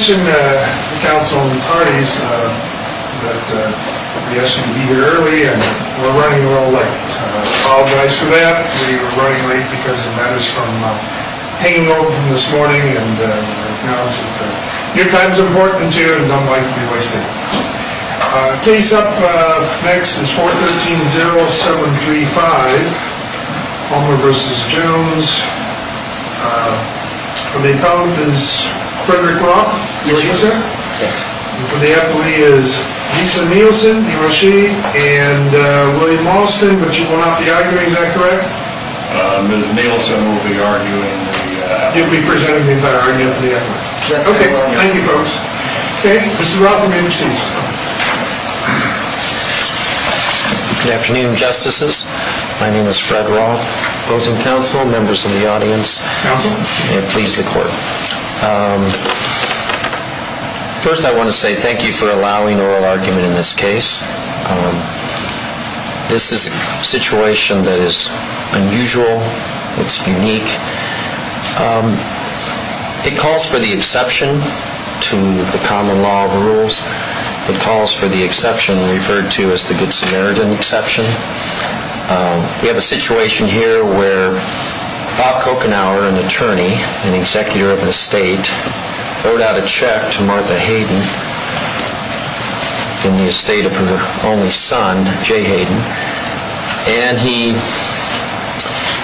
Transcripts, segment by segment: I mentioned to the council and attorneys that we asked you to be here early, and we're running a little late. I apologize for that. We were running late because of matters from hanging open this morning. I acknowledge that your time is important, too, and don't like to be wasted. Case up next is 413-0735, Homer v. Jones. For the accountant is Frederick Roth. Yes, sir. And for the attorney is Lisa Nielsen, he or she, and William Alston. But you won't have to argue. Is that correct? Ms. Nielsen won't be arguing. You'll be presenting the diary after the effort. Yes, I will. Okay. Thank you, folks. Okay. Mr. Roth, you may be seated. Good afternoon, Justices. My name is Fred Roth, opposing counsel. Members of the audience, may it please the Court. First, I want to say thank you for allowing oral argument in this case. This is a situation that is unusual. It's unique. It calls for the exception to the common law of rules. It calls for the exception referred to as the Good Samaritan exception. We have a situation here where Bob Kochenauer, an attorney, an executor of an estate, wrote out a check to Martha Hayden in the estate of her only son, Jay Hayden, and he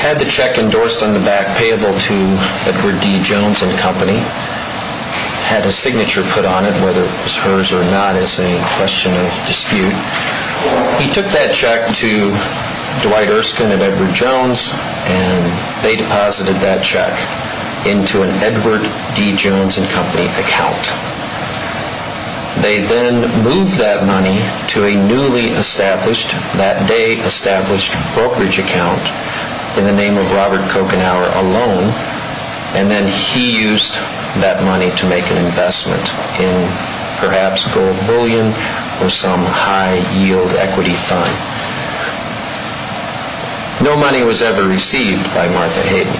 had the check endorsed on the back payable to Edward D. Jones and Company, had a signature put on it, whether it was hers or not is a question of dispute. He took that check to Dwight Erskine and Edward Jones, and they deposited that check into an Edward D. Jones and Company account. They then moved that money to a newly established, that day established, brokerage account in the name of Robert Kochenauer alone, and then he used that money to make an investment in perhaps gold bullion or some high yield equity fund. No money was ever received by Martha Hayden.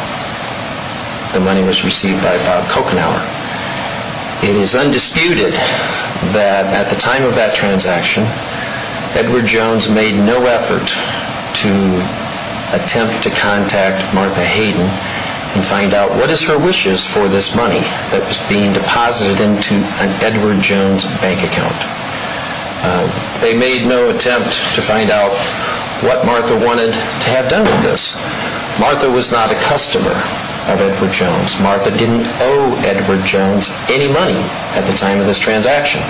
The money was received by Bob Kochenauer. It is undisputed that at the time of that transaction, Edward Jones made no effort to attempt to contact Martha Hayden and find out what is her wishes for this money that was being deposited into an Edward Jones bank account. They made no attempt to find out what Martha wanted to have done with this. Martha was not a customer of Edward Jones. Martha didn't owe Edward Jones any money at the time of this transaction.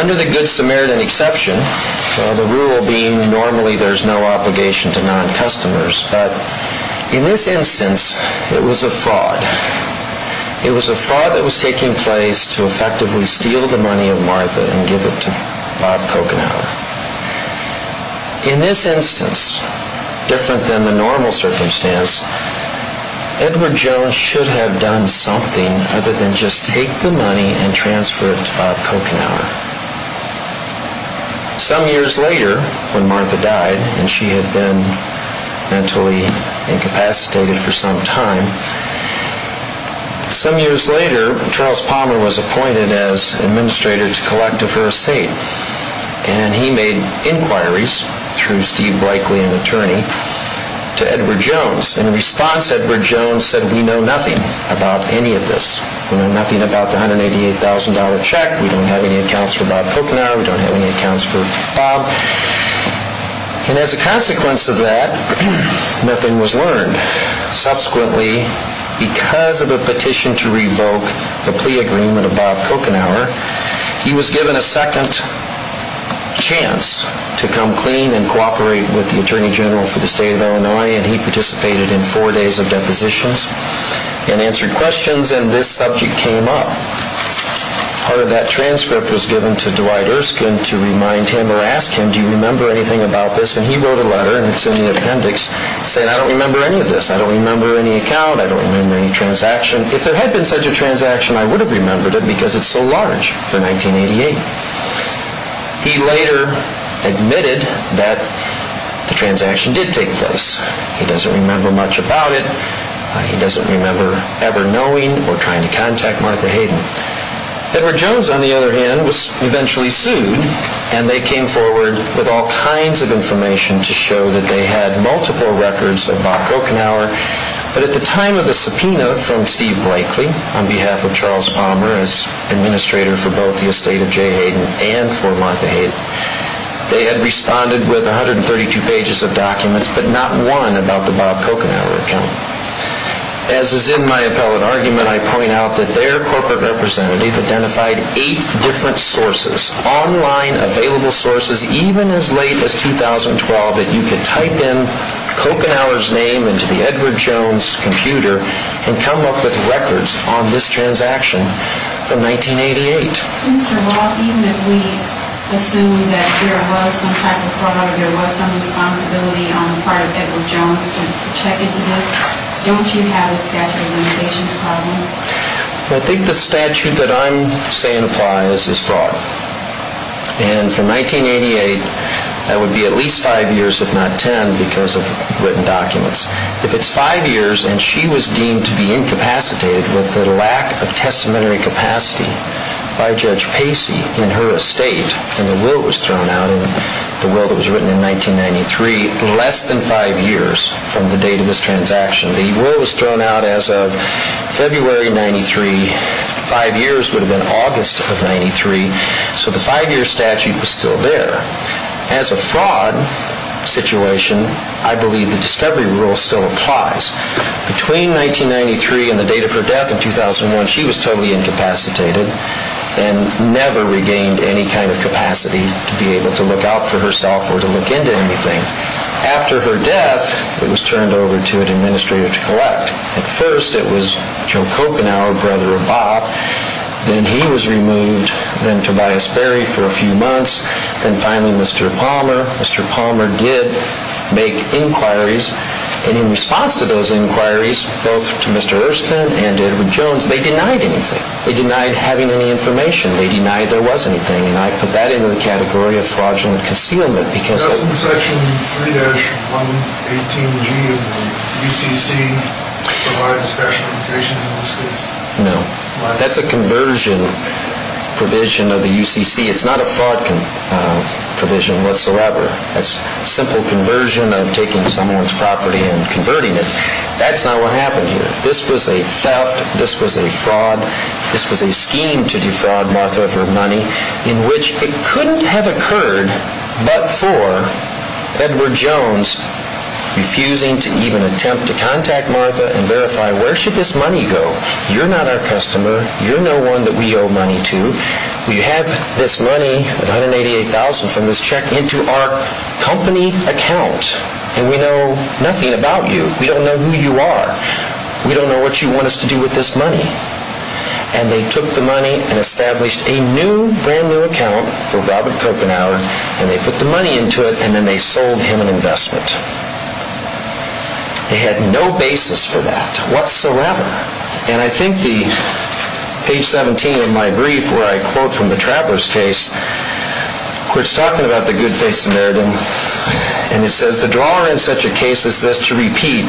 Under the Good Samaritan exception, the rule being normally there is no obligation to non-customers, but in this instance it was a fraud. It was a fraud that was taking place to effectively steal the money of Martha and give it to Bob Kochenauer. In this instance, different than the normal circumstance, Edward Jones should have done something other than just take the money and transfer it to Bob Kochenauer. Some years later, when Martha died and she had been mentally incapacitated for some time, some years later, Charles Palmer was appointed as Administrator to Collective for Estate and he made inquiries through Steve Bleichly, an attorney, to Edward Jones. In response, Edward Jones said, we know nothing about any of this. We know nothing about the $188,000 check. We don't have any accounts for Bob Kochenauer. We don't have any accounts for Bob. And as a consequence of that, nothing was learned. Subsequently, because of a petition to revoke the plea agreement of Bob Kochenauer, he was given a second chance to come clean and cooperate with the Attorney General for the State of Illinois and he participated in four days of depositions and answered questions and this subject came up. Part of that transcript was given to Dwight Erskine to remind him or ask him, do you remember anything about this? And he wrote a letter and it's in the appendix saying, I don't remember any of this. I don't remember any account. I don't remember any transaction. If there had been such a transaction, I would have remembered it because it's so large for 1988. He later admitted that the transaction did take place. He doesn't remember much about it. He doesn't remember ever knowing or trying to contact Martha Hayden. Edward Jones, on the other hand, was eventually sued and they came forward with all kinds of information to show that they had multiple records of Bob Kochenauer. But at the time of the subpoena from Steve Blakely on behalf of Charles Palmer as administrator for both the estate of Jay Hayden and for Martha Hayden, they had responded with 132 pages of documents but not one about the Bob Kochenauer account. As is in my appellate argument, I point out that their corporate representative identified eight different sources, online available sources, that you could type in Kochenauer's name into the Edward Jones computer and come up with records on this transaction from 1988. Mr. Roth, even if we assume that there was some type of fraud or there was some responsibility on the part of Edward Jones to check into this, don't you have a statute of limitations problem? I think the statute that I'm saying applies is fraud. And from 1988, that would be at least five years if not ten because of written documents. If it's five years and she was deemed to be incapacitated with the lack of testamentary capacity by Judge Pacey in her estate and the will was thrown out, the will that was written in 1993, less than five years from the date of this transaction. The will was thrown out as of February 93. Five years would have been August of 93. So the five-year statute was still there. As a fraud situation, I believe the discovery rule still applies. Between 1993 and the date of her death in 2001, she was totally incapacitated and never regained any kind of capacity to be able to look out for herself or to look into anything. After her death, it was turned over to an administrator to collect. At first it was Joe Kochenauer, brother of Bob. Then he was removed. Then Tobias Berry for a few months. Then finally Mr. Palmer. Mr. Palmer did make inquiries. And in response to those inquiries, both to Mr. Erskine and Edward Jones, they denied anything. They denied having any information. They denied there was anything. And I put that into the category of fraudulent concealment because— 3-118G of the UCC provides special implications in this case? No. That's a conversion provision of the UCC. It's not a fraud provision whatsoever. That's a simple conversion of taking someone's property and converting it. That's not what happened here. This was a theft. This was a fraud. In which it couldn't have occurred but for Edward Jones refusing to even attempt to contact Martha and verify, where should this money go? You're not our customer. You're no one that we owe money to. We have this money of $188,000 from this check into our company account. And we know nothing about you. We don't know who you are. We don't know what you want us to do with this money. And they took the money and established a new, brand-new account for Robert Kopenhauer, and they put the money into it, and then they sold him an investment. They had no basis for that whatsoever. And I think the page 17 of my brief where I quote from the Traveller's case, where it's talking about the good face of Meredith, and it says, The drawer in such a case as this, to repeat,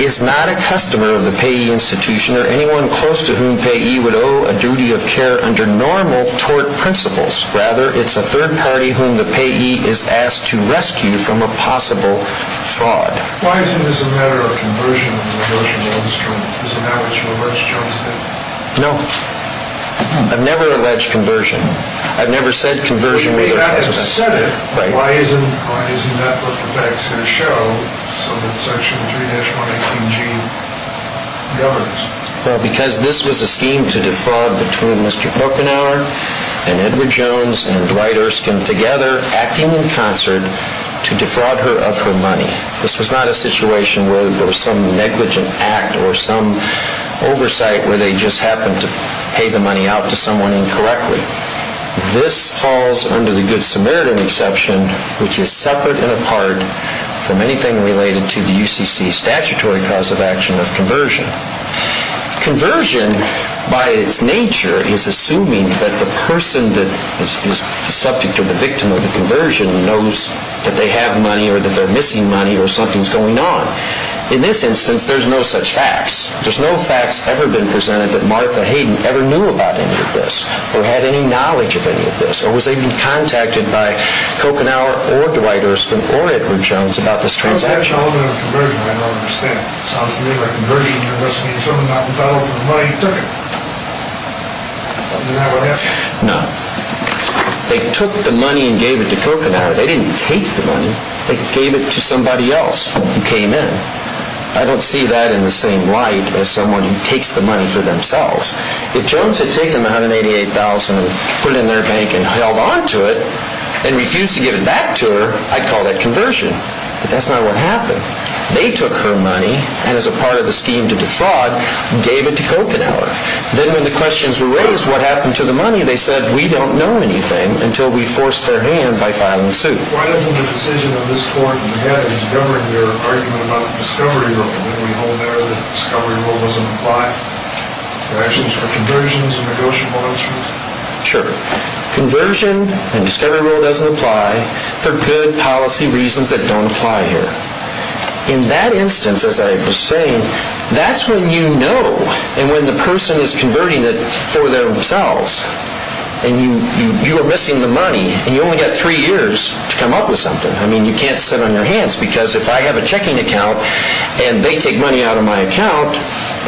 is not a customer of the payee institution or anyone close to whom payee would owe a duty of care under normal tort principles. Rather, it's a third party whom the payee is asked to rescue from a possible fraud. Why isn't this a matter of conversion? Is it not what you allege Jones did? No. I've never alleged conversion. I've never said conversion was a consequence. Why isn't that what the facts are going to show so that Section 3-118G governs? Well, because this was a scheme to defraud between Mr. Kopenhauer and Edward Jones and Dwight Erskine together, acting in concert, to defraud her of her money. This was not a situation where there was some negligent act or some oversight where they just happened to pay the money out to someone incorrectly. This falls under the Good Samaritan exception, which is separate and apart from anything related to the UCC statutory cause of action of conversion. Conversion, by its nature, is assuming that the person that is subject or the victim of the conversion knows that they have money or that they're missing money or something's going on. In this instance, there's no such facts. There's no facts ever been presented that Martha Hayden ever knew about any of this or had any knowledge of any of this or was even contacted by Kopenhauer or Dwight Erskine or Edward Jones about this transaction. How is that relevant to conversion? I don't understand. It sounds to me like conversion must mean someone got involved with the money and took it. Isn't that what happened? No. They took the money and gave it to Kopenhauer. They didn't take the money. They gave it to somebody else who came in. I don't see that in the same light as someone who takes the money for themselves. If Jones had taken the $188,000 and put it in their bank and held on to it and refused to give it back to her, I'd call that conversion. But that's not what happened. They took her money and, as a part of the scheme to defraud, gave it to Kopenhauer. Then when the questions were raised, what happened to the money, they said, we don't know anything until we force their hand by filing a suit. Why isn't the decision of this Court in the head is governing your argument about the discovery rule? And when we hold there, the discovery rule doesn't apply. Are there actions for conversions and negotiable instruments? Sure. Conversion and discovery rule doesn't apply for good policy reasons that don't apply here. In that instance, as I was saying, that's when you know, and when the person is converting it for themselves, and you are missing the money, and you only got three years to come up with something. I mean, you can't sit on your hands. Because if I have a checking account, and they take money out of my account,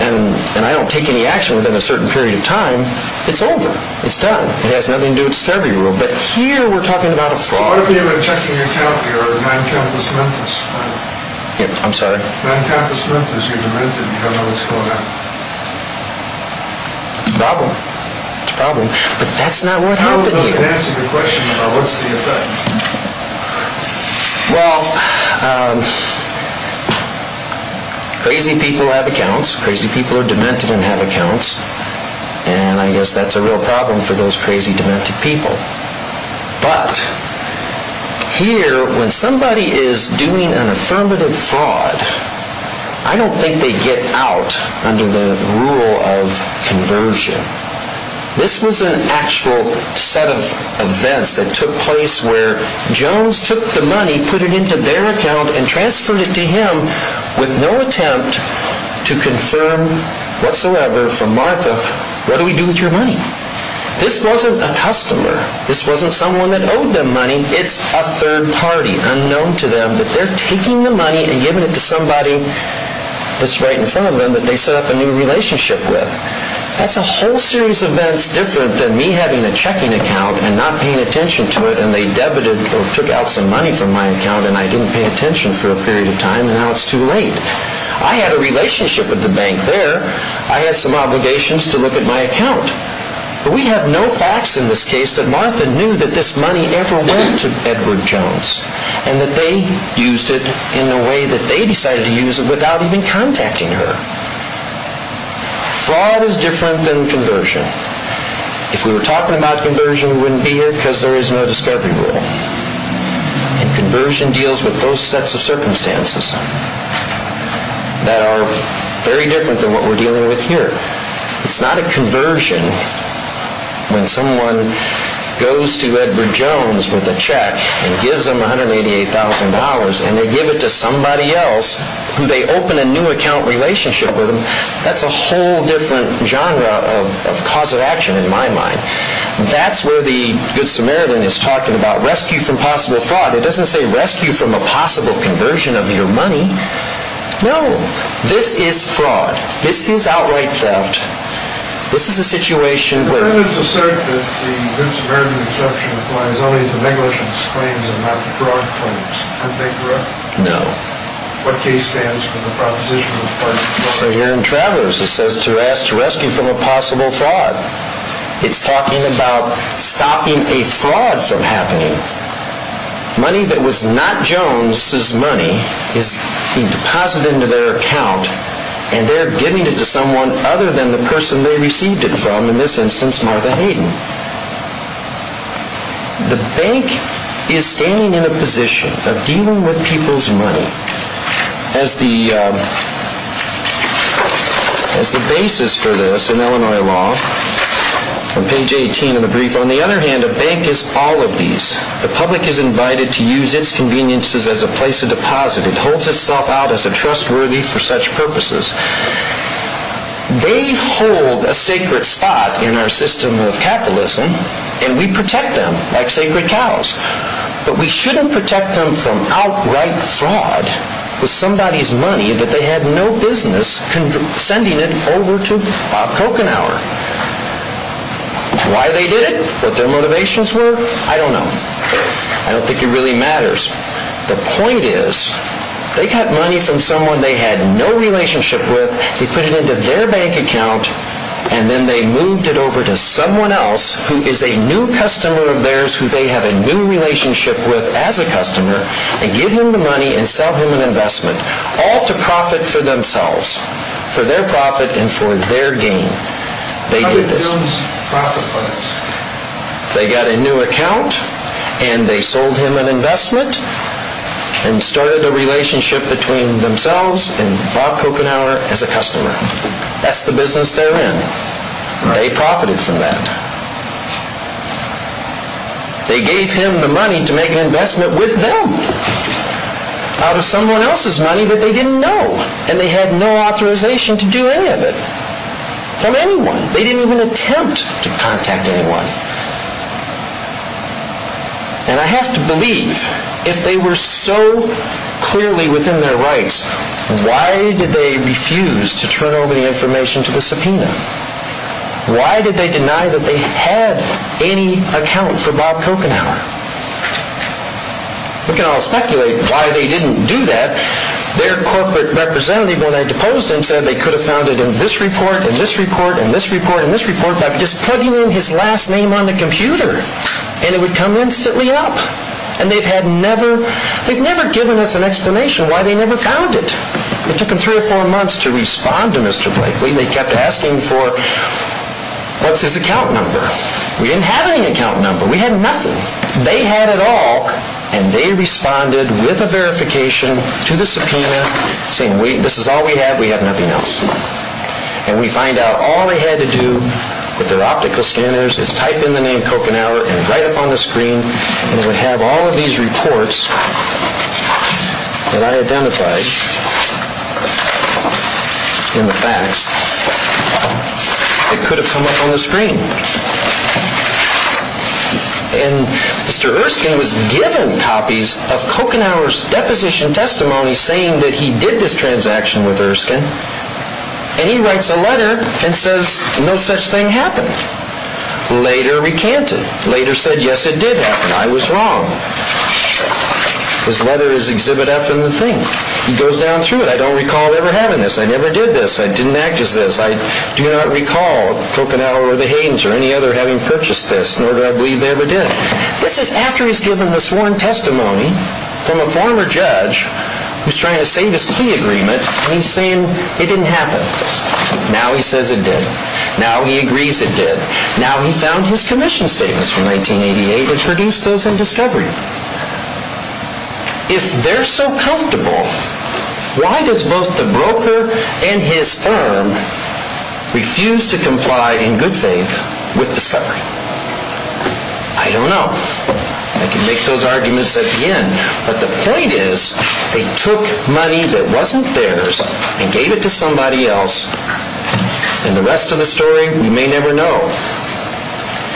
and I don't take any action within a certain period of time, it's over. It's done. It has nothing to do with the discovery rule. But here we're talking about a fraud. So what if you have a checking account here of 9 Campus Memphis? I'm sorry? 9 Campus Memphis, you've been rented, and you don't know what's going on. It's a problem. It's a problem. But that's not what happened here. How about you answer the question about what's the effect? Well, crazy people have accounts. Crazy people are demented and have accounts. And I guess that's a real problem for those crazy, demented people. But here, when somebody is doing an affirmative fraud, I don't think they get out under the rule of conversion. This was an actual set of events that took place where Jones took the money, put it into their account, and transferred it to him with no attempt to confirm whatsoever from Martha, what do we do with your money? This wasn't a customer. This wasn't someone that owed them money. It's a third party, unknown to them, that they're taking the money and giving it to somebody that's right in front of them that they set up a new relationship with. That's a whole series of events different than me having a checking account and not paying attention to it, and they debited or took out some money from my account and I didn't pay attention for a period of time, and now it's too late. I had a relationship with the bank there. I had some obligations to look at my account. But we have no facts in this case that Martha knew that this money ever went to Edward Jones, and that they used it in a way that they decided to use it without even contacting her. Fraud is different than conversion. If we were talking about conversion, we wouldn't be here because there is no discovery rule. And conversion deals with those sets of circumstances that are very different than what we're dealing with here. It's not a conversion when someone goes to Edward Jones with a check and gives him $188,000 and they give it to somebody else who they open a new account relationship with. That's a whole different genre of cause of action in my mind. That's where the Good Samaritan is talking about rescue from possible fraud. It doesn't say rescue from a possible conversion of your money. No. This is fraud. This is outright theft. This is a situation where... No. So here in Travelers it says to ask to rescue from a possible fraud. It's talking about stopping a fraud from happening. Money that was not Jones's money is being deposited into their account, and they're giving it to someone other than the person they received it from, in this instance Martha Hayden. The bank is standing in a position of dealing with people's money as the basis for this in Illinois law. On page 18 of the brief. On the other hand, a bank is all of these. The public is invited to use its conveniences as a place of deposit. It holds itself out as a trustworthy for such purposes. They hold a sacred spot in our system of capitalism, and we protect them like sacred cows. But we shouldn't protect them from outright fraud with somebody's money that they had no business sending it over to Kochenauer. Why they did it, what their motivations were, I don't know. I don't think it really matters. The point is, they got money from someone they had no relationship with, they put it into their bank account, and then they moved it over to someone else who is a new customer of theirs, who they have a new relationship with as a customer, and give him the money and sell him an investment. All to profit for themselves. For their profit and for their gain. How did Jones profit from this? They got a new account, and they sold him an investment, and started a relationship between themselves and Bob Kochenauer as a customer. That's the business they're in. They profited from that. They gave him the money to make an investment with them, out of someone else's money that they didn't know, and they had no authorization to do any of it. From anyone. They didn't even attempt to contact anyone. And I have to believe, if they were so clearly within their rights, why did they refuse to turn over the information to the subpoena? Why did they deny that they had any account for Bob Kochenauer? We can all speculate why they didn't do that. Their corporate representative, when I deposed him, said they could have found it in this report, in this report, in this report, in this report, by just plugging in his last name on the computer, and it would come instantly up. And they've never given us an explanation why they never found it. It took them three or four months to respond to Mr. Blakely. They kept asking for, what's his account number? We didn't have any account number. We had nothing. They had it all, and they responded with a verification to the subpoena, saying, wait, this is all we have, we have nothing else. And we find out all they had to do with their optical scanners is type in the name Kochenauer and write up on the screen, and it would have all of these reports that I identified in the fax. It could have come up on the screen. And Mr. Erskine was given copies of Kochenauer's deposition testimony saying that he did this transaction with Erskine, and he writes a letter and says, no such thing happened. Later recanted. Later said, yes, it did happen. I was wrong. His letter is exhibit F in the thing. He goes down through it. I don't recall ever having this. I never did this. I didn't act as this. I do not recall Kochenauer or the Haydens or any other having purchased this, nor do I believe they ever did. This is after he's given the sworn testimony from a former judge who's trying to save his key agreement, and he's saying it didn't happen. Now he says it did. Now he agrees it did. Now he found his commission statements from 1988 that produced those in Discovery. If they're so comfortable, why does both the broker and his firm refuse to comply in good faith with Discovery? I don't know. I can make those arguments at the end, but the point is they took money that wasn't theirs and gave it to somebody else, and the rest of the story we may never know.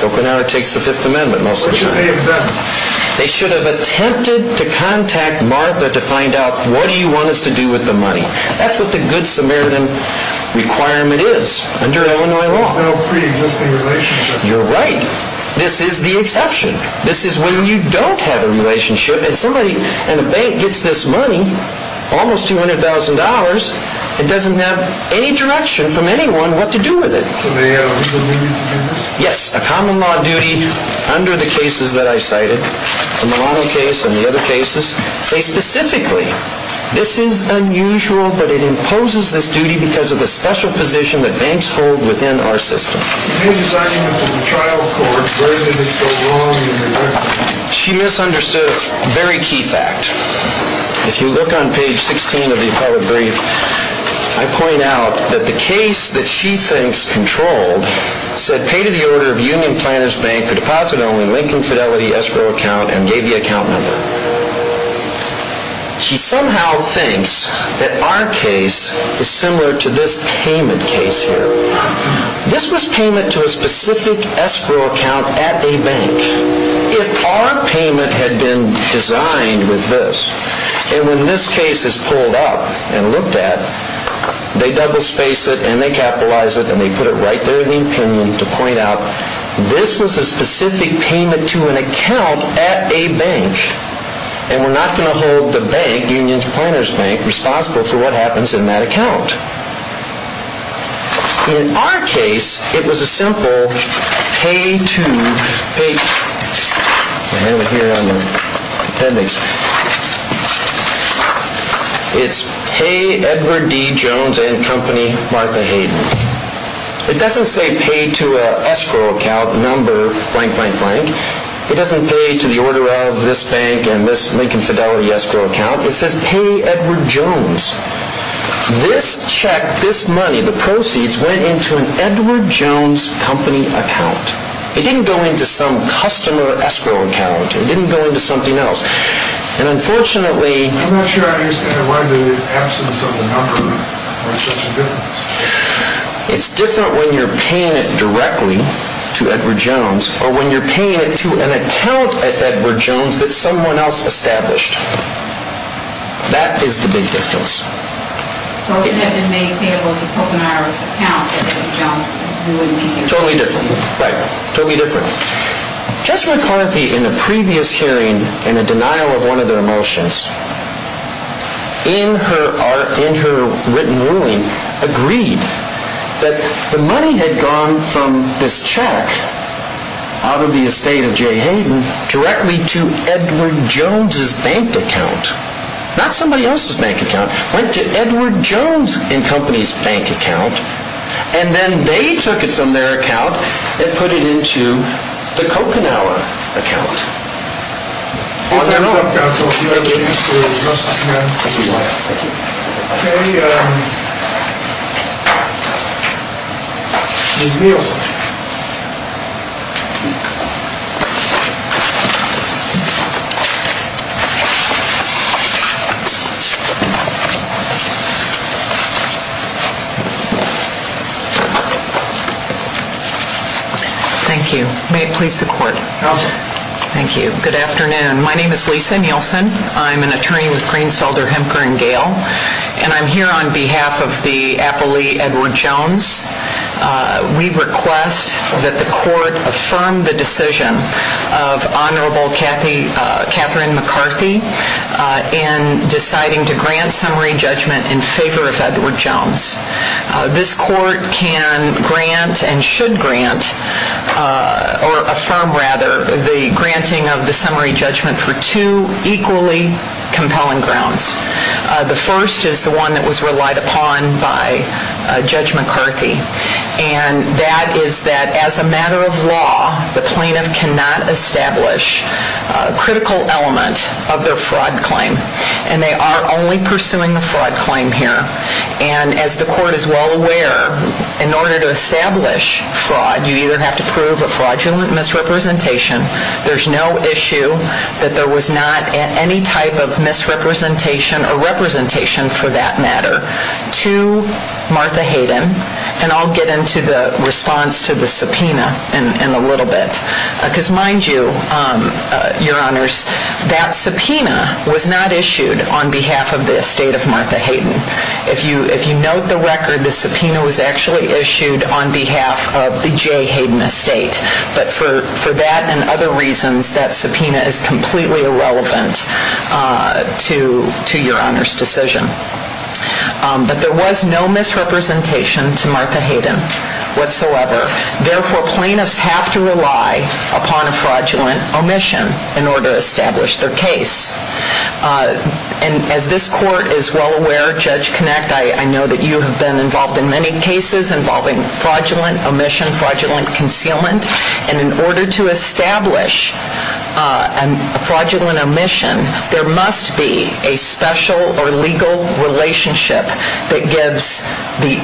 Kochenauer takes the Fifth Amendment most of the time. They should have attempted to contact Martha to find out, what do you want us to do with the money? That's what the good Samaritan requirement is under Illinois law. You're right. This is the exception. This is when you don't have a relationship, and the bank gets this money, almost $200,000, and doesn't have any direction from anyone what to do with it. Yes, a common law duty under the cases that I cited, the Milano case and the other cases, say specifically, this is unusual, but it imposes this duty because of the special position that banks hold within our system. She misunderstood a very key fact. If you look on page 16 of the appellate brief, I point out that the case that she thinks controlled said pay to the order of Union Planners Bank for deposit only Lincoln Fidelity escrow account, and gave the account number. She somehow thinks that our case is similar to this payment case here. This was payment to a specific escrow account at a bank. If our payment had been designed with this, and when this case is pulled up and looked at, they double space it, and they capitalize it, and they put it right there in the opinion to point out this was a specific payment to an account at a bank. And we're not going to hold the bank, Union Planners Bank, responsible for what happens in that account. In our case, it was a simple pay to... It's pay Edward D. Jones and Company Martha Hayden. It doesn't say pay to an escrow account number, blank, blank, blank. It doesn't pay to the order of this bank and this Lincoln Fidelity escrow account. It says pay Edward Jones. This check, this money, the proceeds, went into an Edward Jones Company account. It didn't go into some customer escrow account. It didn't go into something else. And unfortunately... I'm not sure I understand why the absence of the number makes such a difference. It's different when you're paying it directly to Edward Jones, or when you're paying it to an account at Edward Jones that someone else established. That is the big difference. Totally different. Right. Totally different. Jessica McCarthy, in a previous hearing, in a denial of one of their motions, in her written ruling, agreed that the money had gone from this check, out of the estate of J. Hayden, directly to Edward Jones' bank account. Not somebody else's bank account. It went to Edward Jones and Company's bank account. And then they took it from their account and put it into the Coconawa account. On their own. Thank you. Thank you. Okay. Ms. Nielsen. Thank you. May it please the Court. Okay. Thank you. Good afternoon. My name is Lisa Nielsen. I'm an attorney with Greensfelder, Hempker & Gayle. And I'm here on behalf of the appellee, Edward Jones. We request that the Court affirm the decision of Honorable Catherine McCarthy in deciding to grant summary judgment in favor of Edward Jones. or affirm, rather, the granting of the summary judgment for two equally compelling grounds. The first is the one that was relied upon by Judge McCarthy. And that is that, as a matter of law, the plaintiff cannot establish a critical element of their fraud claim. And they are only pursuing the fraud claim here. And as the Court is well aware, in order to establish fraud, you either have to prove a fraudulent misrepresentation. There's no issue that there was not any type of misrepresentation or representation, for that matter, to Martha Hayden. And I'll get into the response to the subpoena in a little bit. Because mind you, Your Honors, that subpoena was not issued on behalf of the estate of Martha Hayden. If you note the record, the subpoena was actually issued on behalf of the J. Hayden estate. But for that and other reasons, that subpoena is completely irrelevant to Your Honors' decision. But there was no misrepresentation to Martha Hayden, whatsoever. Therefore, plaintiffs have to rely upon a fraudulent omission in order to establish their case. And as this Court is well aware, Judge Kinect, I know that you have been involved in many cases involving fraudulent omission, fraudulent concealment. And in order to establish a fraudulent omission, there must be a special or legal relationship that gives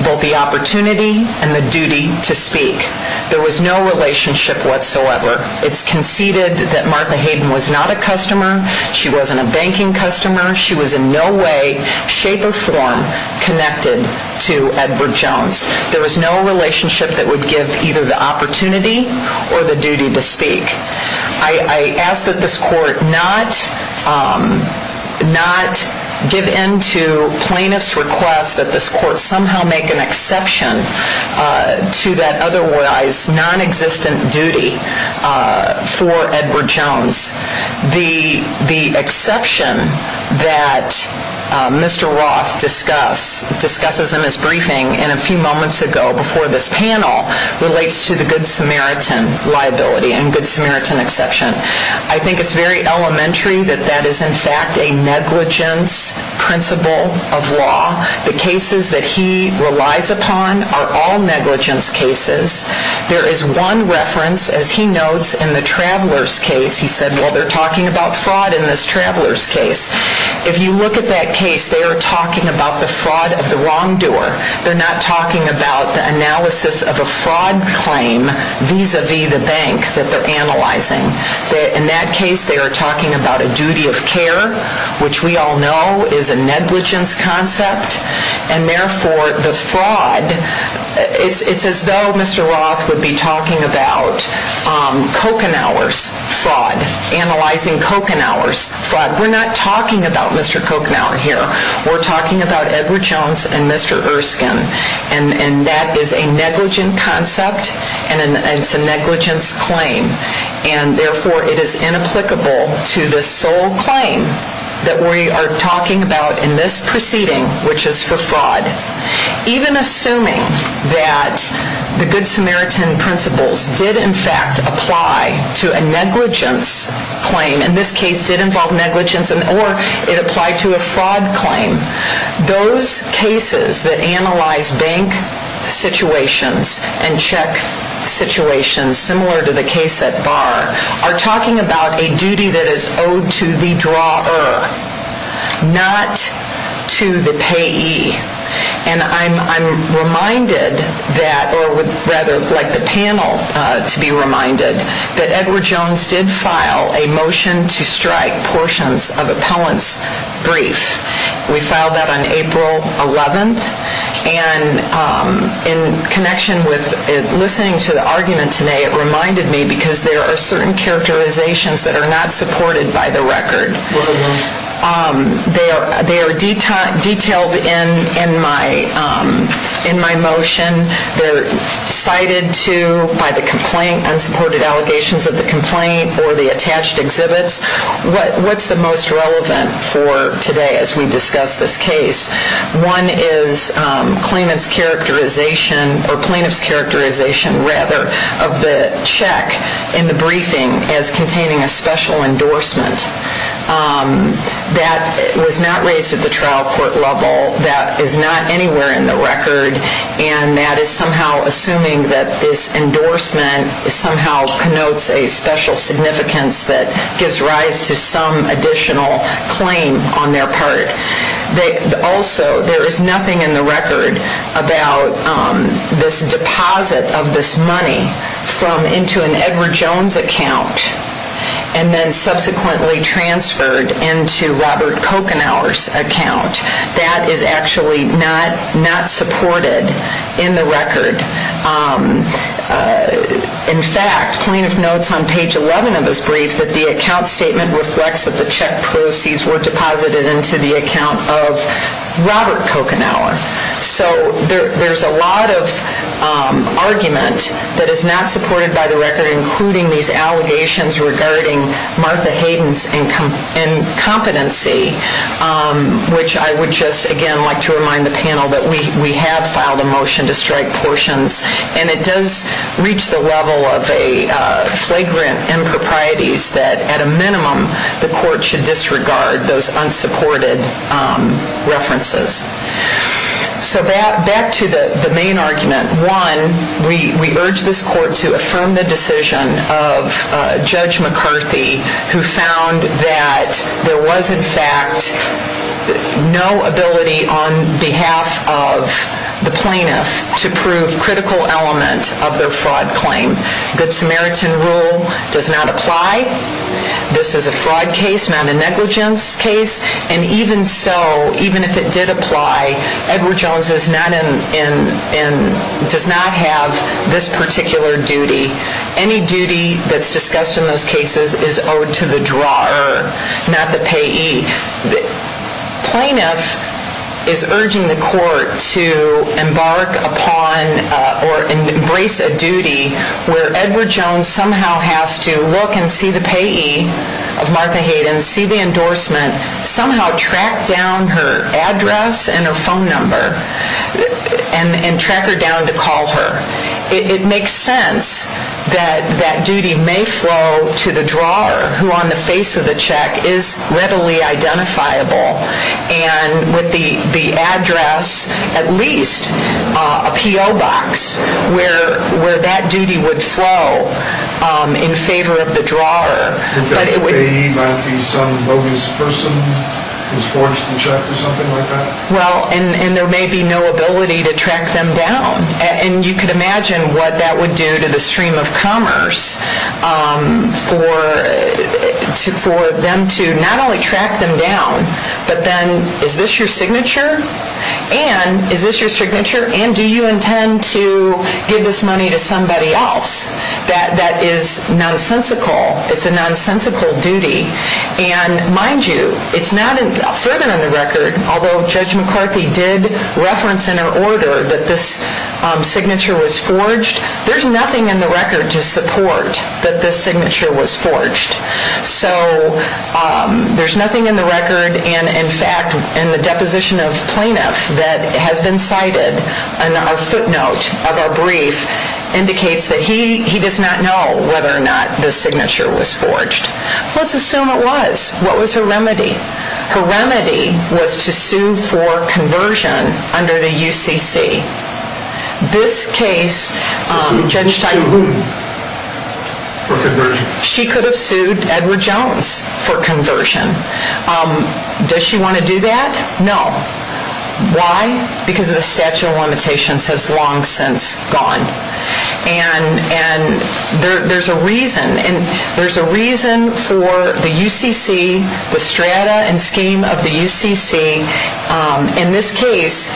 both the opportunity and the duty to speak. There was no relationship, whatsoever. It's conceded that Martha Hayden was not a customer. She wasn't a banking customer. She was in no way, shape, or form connected to Edward Jones. There was no relationship that would give either the opportunity or the duty to speak. I ask that this Court not give in to plaintiffs' request that this Court somehow make an exception to that otherwise nonexistent duty for Edward Jones. The exception that Mr. Roth discussed in his briefing a few moments ago before this panel relates to the Good Samaritan liability and Good Samaritan exception. I think it's very elementary that that is in fact a negligence principle of law. The cases that he relies upon are all negligence cases. There is one reference, as he notes, in the Traveler's case. He said, well, they're talking about fraud in this Traveler's case. If you look at that case, they are talking about the fraud of the wrongdoer. They're not talking about the analysis of a fraud claim vis-à-vis the bank that they're analyzing. In that case, they are talking about a duty of care, which we all know is a negligence concept. And therefore, the fraud, it's as though Mr. Roth would be talking about Kochenauer's fraud, analyzing Kochenauer's fraud. We're not talking about Mr. Kochenauer here. We're talking about Edward Jones and Mr. Erskine. And that is a negligence concept and it's a negligence claim. And therefore, it is inapplicable to the sole claim that we are talking about in this proceeding, which is for fraud. Even assuming that the Good Samaritan principles did in fact apply to a negligence claim, and this case did involve negligence, or it applied to a fraud claim, those cases that analyze bank situations and check situations, similar to the case at Barr, are talking about a duty that is owed to the drawer, not to the payee. And I'm reminded that, or rather like the panel to be reminded, that Edward Jones did file a motion to strike portions of appellant's brief. We filed that on April 11th. And in connection with listening to the argument today, it reminded me because there are certain characterizations that are not supported by the record. They are detailed in my motion. They're cited to by the complaint, unsupported allegations of the complaint or the attached exhibits. What's the most relevant for today as we discuss this case? One is plaintiff's characterization of the check in the briefing as containing a special endorsement that was not raised at the trial court level, that is not anywhere in the record, and that is somehow assuming that this endorsement somehow connotes a special significance that gives rise to some additional claim on their part. Also, there is nothing in the record about this deposit of this money from into an Edward Jones account and then subsequently transferred into Robert Kochenauer's account. That is actually not supported in the record In fact, plaintiff notes on page 11 of his brief that the account statement reflects that the check proceeds were deposited into the account of Robert Kochenauer. There's a lot of argument that is not supported by the record, including these allegations regarding Martha Hayden's incompetency, which I would just, again, like to remind the panel that we have filed a motion to reach the level of flagrant improprieties that, at a minimum, the court should disregard those unsupported references. Back to the main argument. One, we urge this court to affirm the decision of Judge McCarthy, who found that there was, in fact, no ability on behalf of the plaintiff to prove critical element of their fraud claim. Good Samaritan rule does not apply. This is a fraud case, not a negligence case, and even so, even if it did apply, Edward Jones is not in, does not have this particular duty. Any duty that's discussed in those cases is owed to the drawer, not the payee. Plaintiff is urging the court to embark upon or embrace a duty where Edward Jones somehow has to look and see the payee of Martha Hayden, see the endorsement, somehow track down her address and her phone number and track her down to call her. It makes sense that that duty may flow to the drawer, who on the face of the check is readily identifiable, and with the address at least a PO box where that duty would flow in favor of the drawer. The payee might be some bogus person who's forged the check or something like that? Well, and there may be no ability to track them down, and you could imagine what that would do to the stream of commerce for them to not only track them down, but then, is this your signature? And is this your signature? And do you intend to give this money to somebody else? That is nonsensical. It's a nonsensical duty. And mind you, it's not, further than the record, although Judge McCarthy did reference in her order that this signature was forged, there's nothing in the record to support that this signature was forged. So there's nothing in the record and, in fact, in the deposition of plaintiff that has been cited, and our footnote of our brief indicates that he does not know whether or not this signature was forged. Let's assume it was. What was her remedy? Her remedy was to sue for conversion under the UCC. This case, Judge Teichman, she could have sued Edward Jones for conversion. Does she want to do that? No. Why? Because the statute of limitations has long since gone. And there's a reason for the UCC, the strata and scheme of the UCC. In this case,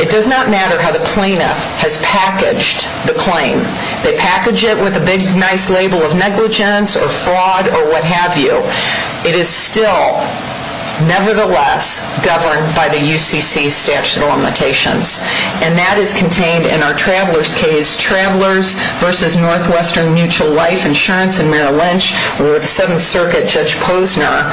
it does not matter how the plaintiff has packaged the claim. They package it with a fraud or what have you. It is still, nevertheless, governed by the UCC statute of limitations. And that is contained in our Travelers case, Travelers v. Northwestern Mutual Life Insurance in Merrill Lynch, where the 7th Circuit Judge Posner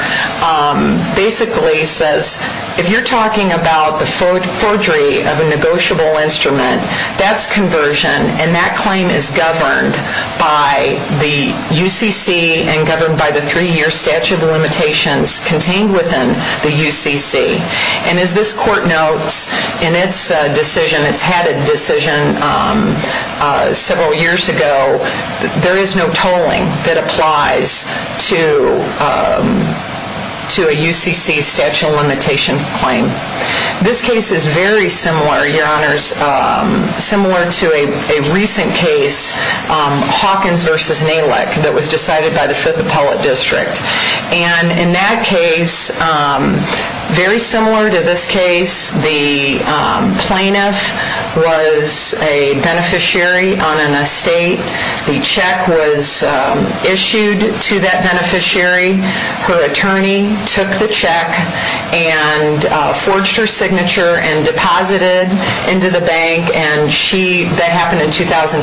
basically says, if you're talking about the forgery of a negotiable instrument, that's conversion, and that claim is governed by the UCC and governed by the 3-year statute of limitations contained within the UCC. And as this court notes, in its decision, it's had a decision several years ago, there is no tolling that applies to a UCC statute of limitation claim. This case is very similar, Your Honors, similar to a recent case, Hawkins v. Nalick, that was decided by the Fifth Appellate District. And in that case, very similar to this case, the plaintiff was a beneficiary on an estate. The check was issued to that beneficiary. Her attorney took the check and forged her signature and deposited into the bank, and she, that happened in 2006.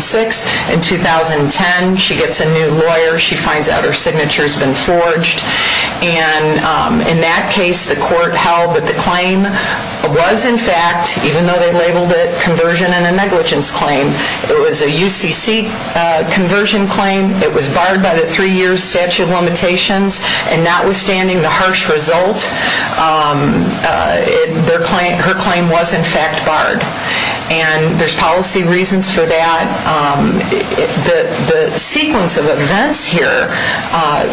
In 2010, she gets a new lawyer. She finds out her signature's been forged. And in that case, the court held that the claim was in fact, even though they labeled it conversion and a negligence claim, it was a UCC conversion claim. It was barred by the 3-year statute of limitations, and notwithstanding the harsh result, her claim was in fact barred. And there's policy reasons for that. The sequence of events here,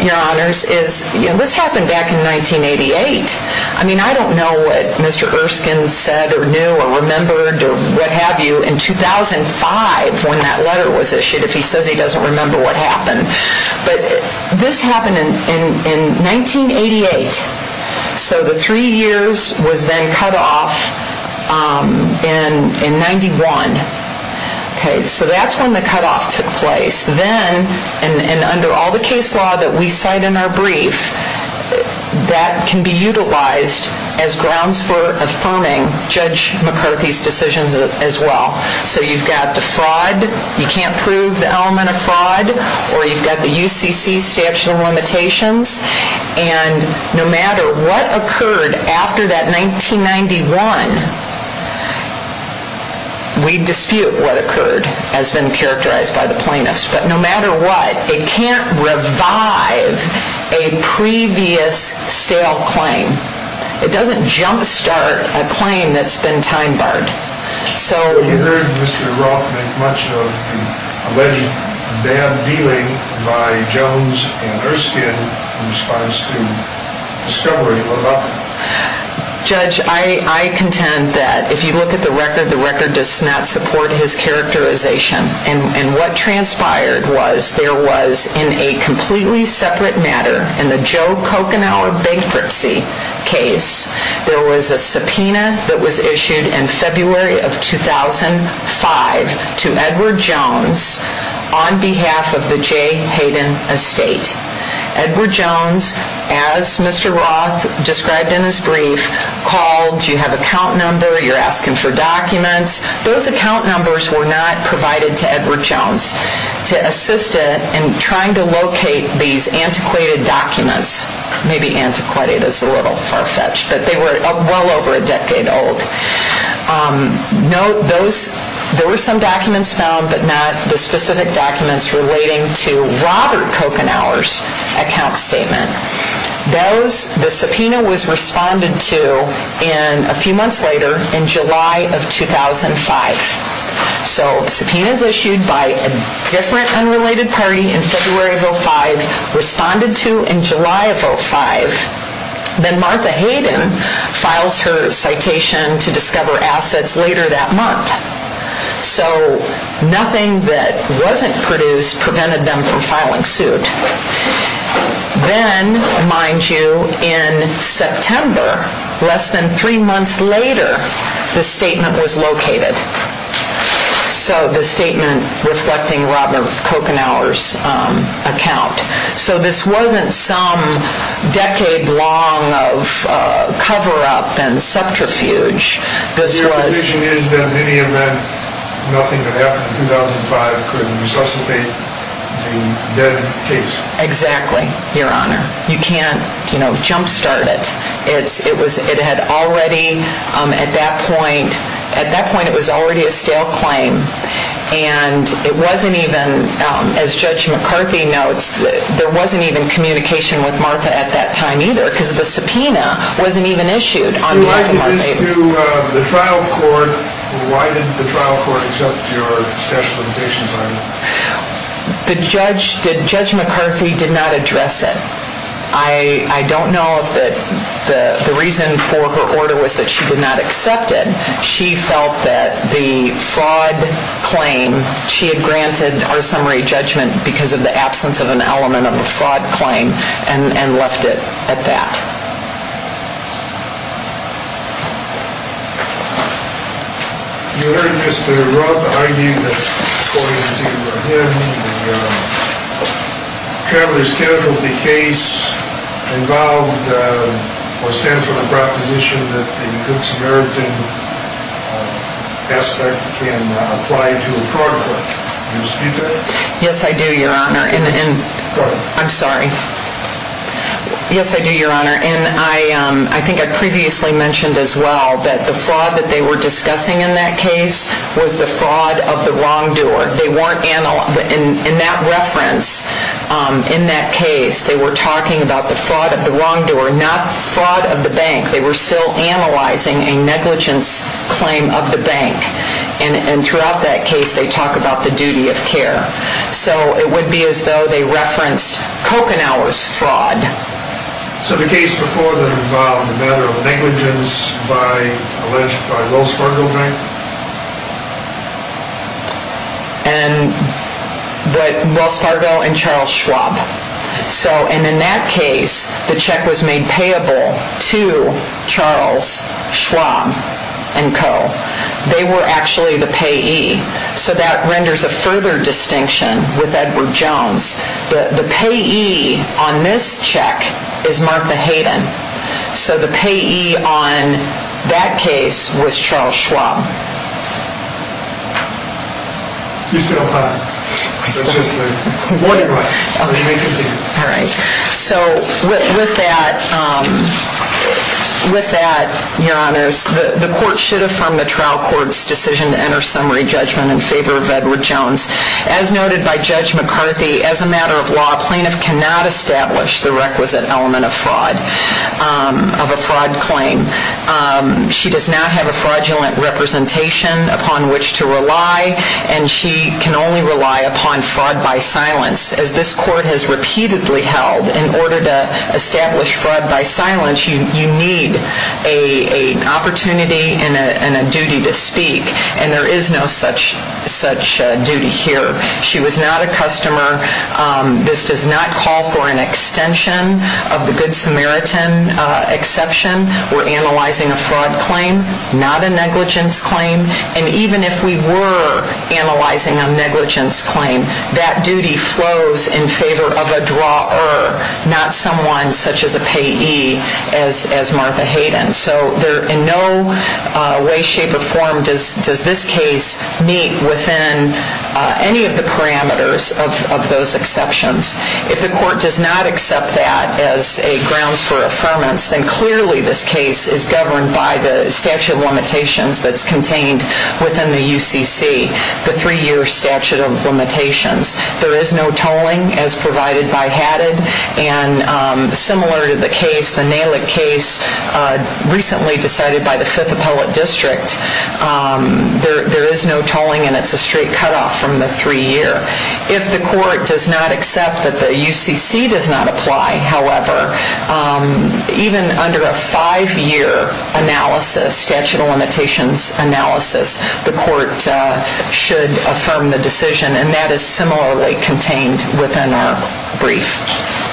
Your Honors, is, you know, this happened back in 1988. I mean, I don't know what Mr. Erskine said or knew or remembered or what have you in 2005 when that letter was issued, if he says he doesn't remember what happened. But this happened in 1988. So the 3 years was then cut off in 1991. So that's when the cutoff took place. Then, and under all the case law that we cite in our brief, that can be utilized as grounds for affirming Judge McCarthy's decisions as well. So you've got the fraud. You can't prove the element of fraud. Or you've got the UCC statute of limitations. And no matter what occurred after that in 1991, we dispute what occurred as been characterized by the plaintiffs. But no matter what, it can't revive a previous stale claim. It doesn't jump start a claim that's been time barred. So... You heard Mr. Roth make much of the alleged bad dealing by Jones and Erskine in response to discovery of a weapon. Judge, I contend that if you look at the record, the record does not support his characterization. And what transpired was there was, in a completely separate matter, in the Joe Kochenauer bankruptcy case, there was a subpoena that was issued in February of 2005 to Edward Jones on behalf of the J. Hayden estate. Edward Roth described in his brief called, you have an account number, you're asking for documents. Those account numbers were not provided to Edward Jones to assist in trying to locate these antiquated documents. Maybe antiquated is a little far-fetched, but they were well over a decade old. No, those... There were some documents found, but not the specific documents relating to Robert Kochenauer's account statement. Those... The subpoena was responded to in, a few months later, in July of 2005. So, subpoenas issued by a different unrelated party in February of 2005 responded to in July of 2005. Then Martha Hayden files her citation to discover assets later that month. So, nothing that wasn't produced prevented them from then, mind you, in September, less than three months later, the statement was located. So, the statement reflecting Robert Kochenauer's account. So, this wasn't some decade-long of cover-up and subterfuge. This was... The implication is that in any event, nothing that happened in 2005 could resuscitate the case. Exactly, Your Honor. You can't, you know, jump start it. It was... It had already, at that point... At that point, it was already a stale claim, and it wasn't even, as Judge McCarthy notes, there wasn't even communication with Martha at that time either, because the subpoena wasn't even issued on behalf of Martha Hayden. If it's to the trial court, why didn't the trial court accept your statute of limitations item? The judge... Judge McCarthy did not address it. I don't know if the reason for her order was that she did not accept it. She felt that the fraud claim, she had granted her summary judgment because of the absence of an element of a fraud claim, and left it at that. You heard Mr. Roth arguing that, according to him, the Traveller's Case involved or stands for the proposition that the consumeritan aspect can apply to a fraud claim. Do you dispute that? Yes, I do, Your Honor. I'm sorry. Yes, I do, Your Honor, and I think I previously mentioned as well that the fraud that they were discussing in that case was the fraud of the wrongdoer. They weren't... In that reference, in that case, they were talking about the fraud of the wrongdoer, not fraud of the bank. They were still analyzing a negligence claim of the bank. And throughout that case, they talk about the duty of care. So it would be as though they referenced Kochenau's fraud. So the case before that involved a matter of negligence by Wells Fargo Bank? And... Wells Fargo and Charles Schwab. So, and in that case, the check was made payable to Charles Schwab and Co. They were actually the payee. So that renders a further distinction with Edward Jones. The payee on this check is Martha Hayden. So the payee on that case was Charles Schwab. You still have time. I still do. Alright. So with that, with that, Your Honors, the court should affirm the trial court's decision to enter summary judgment in favor of Edward Jones. As noted by Judge McCarthy, as a matter of law, a plaintiff cannot establish the requisite element of fraud, of a fraud claim. She does not have a fraudulent representation upon which to rely, and she can only rely upon fraud by silence. As this court has repeatedly held, in order to establish fraud by silence, you need an opportunity and a duty to speak. And there is no such duty here. She was not a customer. This does not call for an extension of the Good Samaritan exception. We're analyzing a fraud claim, not a negligence claim. And even if we were analyzing a negligence claim, that duty flows in favor of a drawer, not someone such as a payee as Martha Hayden. So in no way, shape, or form does this case meet within any of the parameters of those exceptions. If the court does not accept that as a grounds for affirmance, then clearly this case is governed by the statute of limitations that's contained within the UCC, the three-year statute of limitations. There is no tolling as provided by HADID, and similar to the case, the Nalick case, recently decided by the Fifth Appellate District, there is no tolling, and it's a straight cutoff from the three-year. If the court does not accept that the UCC does not apply, however, even under a five-year analysis, statute of limitations analysis, the court should affirm the decision, and that is similarly contained within our brief.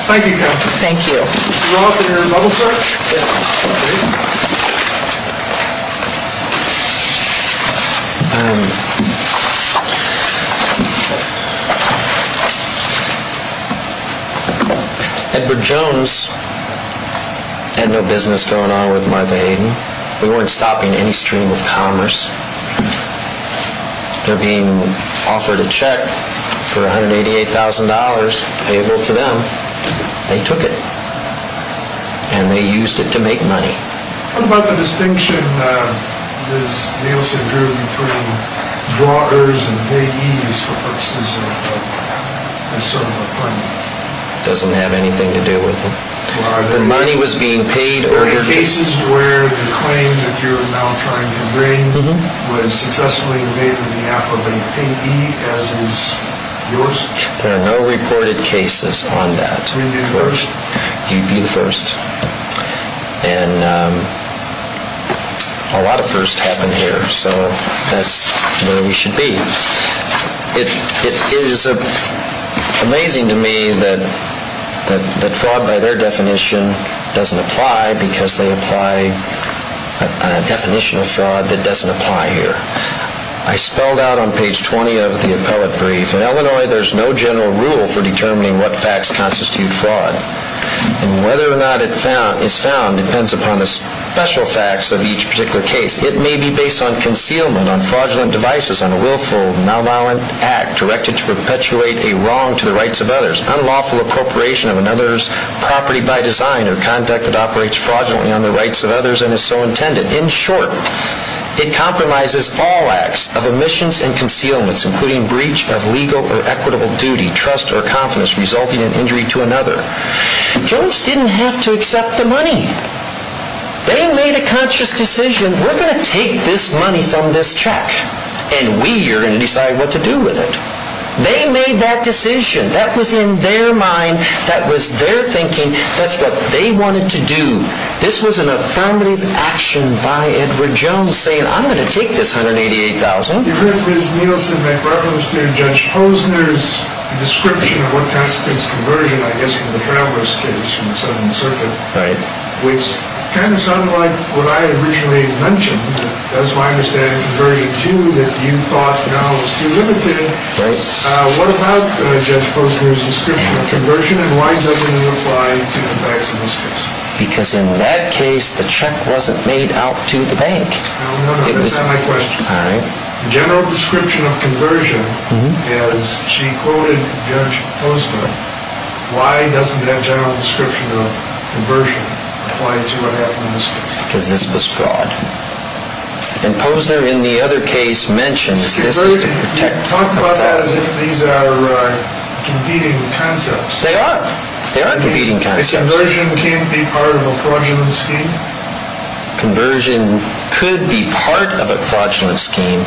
Thank you, counsel. Thank you. Mr. Robb, did you want to double-check? Yes. Edward Jones had no business going on with Martha Hayden. We weren't stopping any stream of commerce. They're being offered a check for $188,000 payable to them. They took it, and they used it to make money. What about the distinction Ms. Nielsen drew between drawers and payees for purposes of assembly appointments? It doesn't have anything to do with it. The money was being paid... Are there cases where the claim that you're now trying to bring was successfully made with the appellate payee, as is yours? There are no reported cases on that. Would you be the first? You'd be the first. And a lot of firsts happen here, so that's where we should be. It is amazing to me that fraud by their definition doesn't apply because they apply a definition of fraud that doesn't apply here. I spelled out on page 20 of the appellate brief, in Illinois there's no general rule for determining what facts constitute fraud. And whether or not it is found depends upon the special facts of each particular case. It may be based on concealment, on fraudulent devices, on a willful, malignant act directed to perpetuate a wrong to the rights of others, unlawful appropriation of another's property by design or conduct that operates fraudulently on the rights of others and is so intended. In short, it compromises all acts of omissions and concealments, including breach of legal or equitable duty, trust, or confidence, resulting in injury to another. Jones didn't have to accept the money. They made a conscious decision, we're going to take this money from this check and we are going to decide what to do with it. They made that decision. That was in their mind, that was their thinking, that's what they wanted to do. This was an affirmative action by Edward Jones saying, I'm going to take this $188,000. You've heard Ms. Nielsen make reference to Judge Posner's description of what constitutes conversion, I guess, from the Travers case from the 7th Circuit, which kind of sounded like what I originally mentioned, as far as I understand, conversion too, that you thought now was too limited. What about Judge Posner's description of conversion and why doesn't it apply to the banks in this case? Because in that case, the check wasn't made out to the bank. No, no, no, that's not my question. The general description of conversion is, she quoted Judge Posner, why doesn't that general description of conversion apply to what happened in this case? Because this was fraud. And Posner in the other case mentions this is to protect... You talk about that as if these are competing concepts. They are. They are competing concepts. Conversion can't be part of a fraudulent scheme? Conversion could be part of a fraudulent scheme,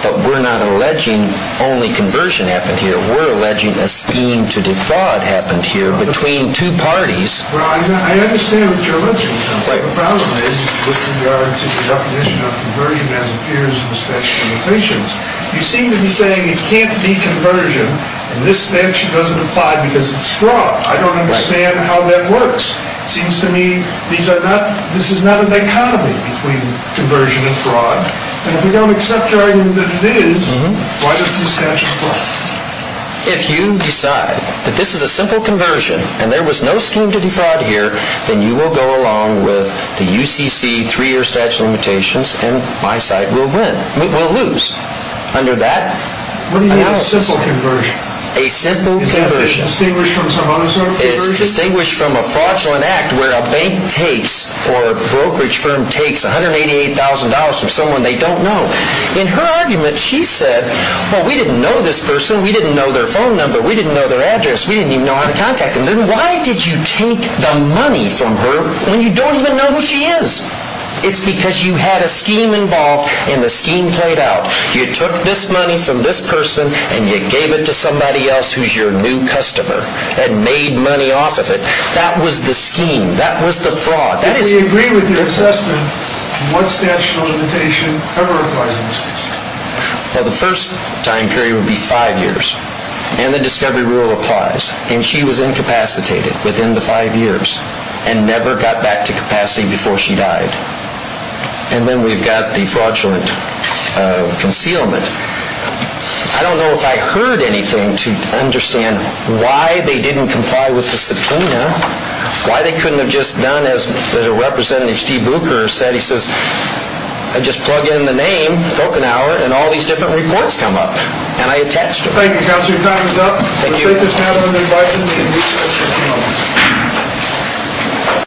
but we're not alleging only conversion happened here, we're alleging it happened here between two parties. Well, I understand what you're alleging, because the problem is, with regard to the definition of conversion as appears in the statute of limitations, you seem to be saying it can't be conversion, and this statute doesn't apply because it's fraud. I don't understand how that works. It seems to me these are not... this is not a dichotomy between conversion and fraud. And if we don't accept your argument that it is, why does this statute apply? If you decide that this is a simple conversion, and there was no scheme to defraud here, then you will go along with the UCC three-year statute of limitations and my side will win. We'll lose. Under that... What do you mean a simple conversion? A simple conversion. Is that distinguished from some other sort of conversion? It's distinguished from a fraudulent act where a bank takes or a brokerage firm takes $188,000 from someone they don't know. In her argument, she said, well, we didn't know this person. We didn't know their phone number. We didn't know their address. We didn't even know how to contact them. Then why did you take the money from her when you don't even know who she is? It's because you had a scheme involved, and the scheme played out. You took this money from this person and you gave it to somebody else who's your new customer and made money off of it. That was the scheme. That was the fraud. If we agree with your assessment, what statute of limitation ever applies in this case? Well, the first time period would be five years. And the discovery rule applies. And she was incapacitated within the five years and never got back to capacity before she died. And then we've got the fraudulent concealment. I don't know if I heard anything to understand why they didn't comply with the subpoena, why they couldn't have just done as Representative Steve Booker said. He says, I just plug in the name, Falkenhauer, and all these different reports come up. And I attached them. Thank you, Counselor. Your time is up. Thank you.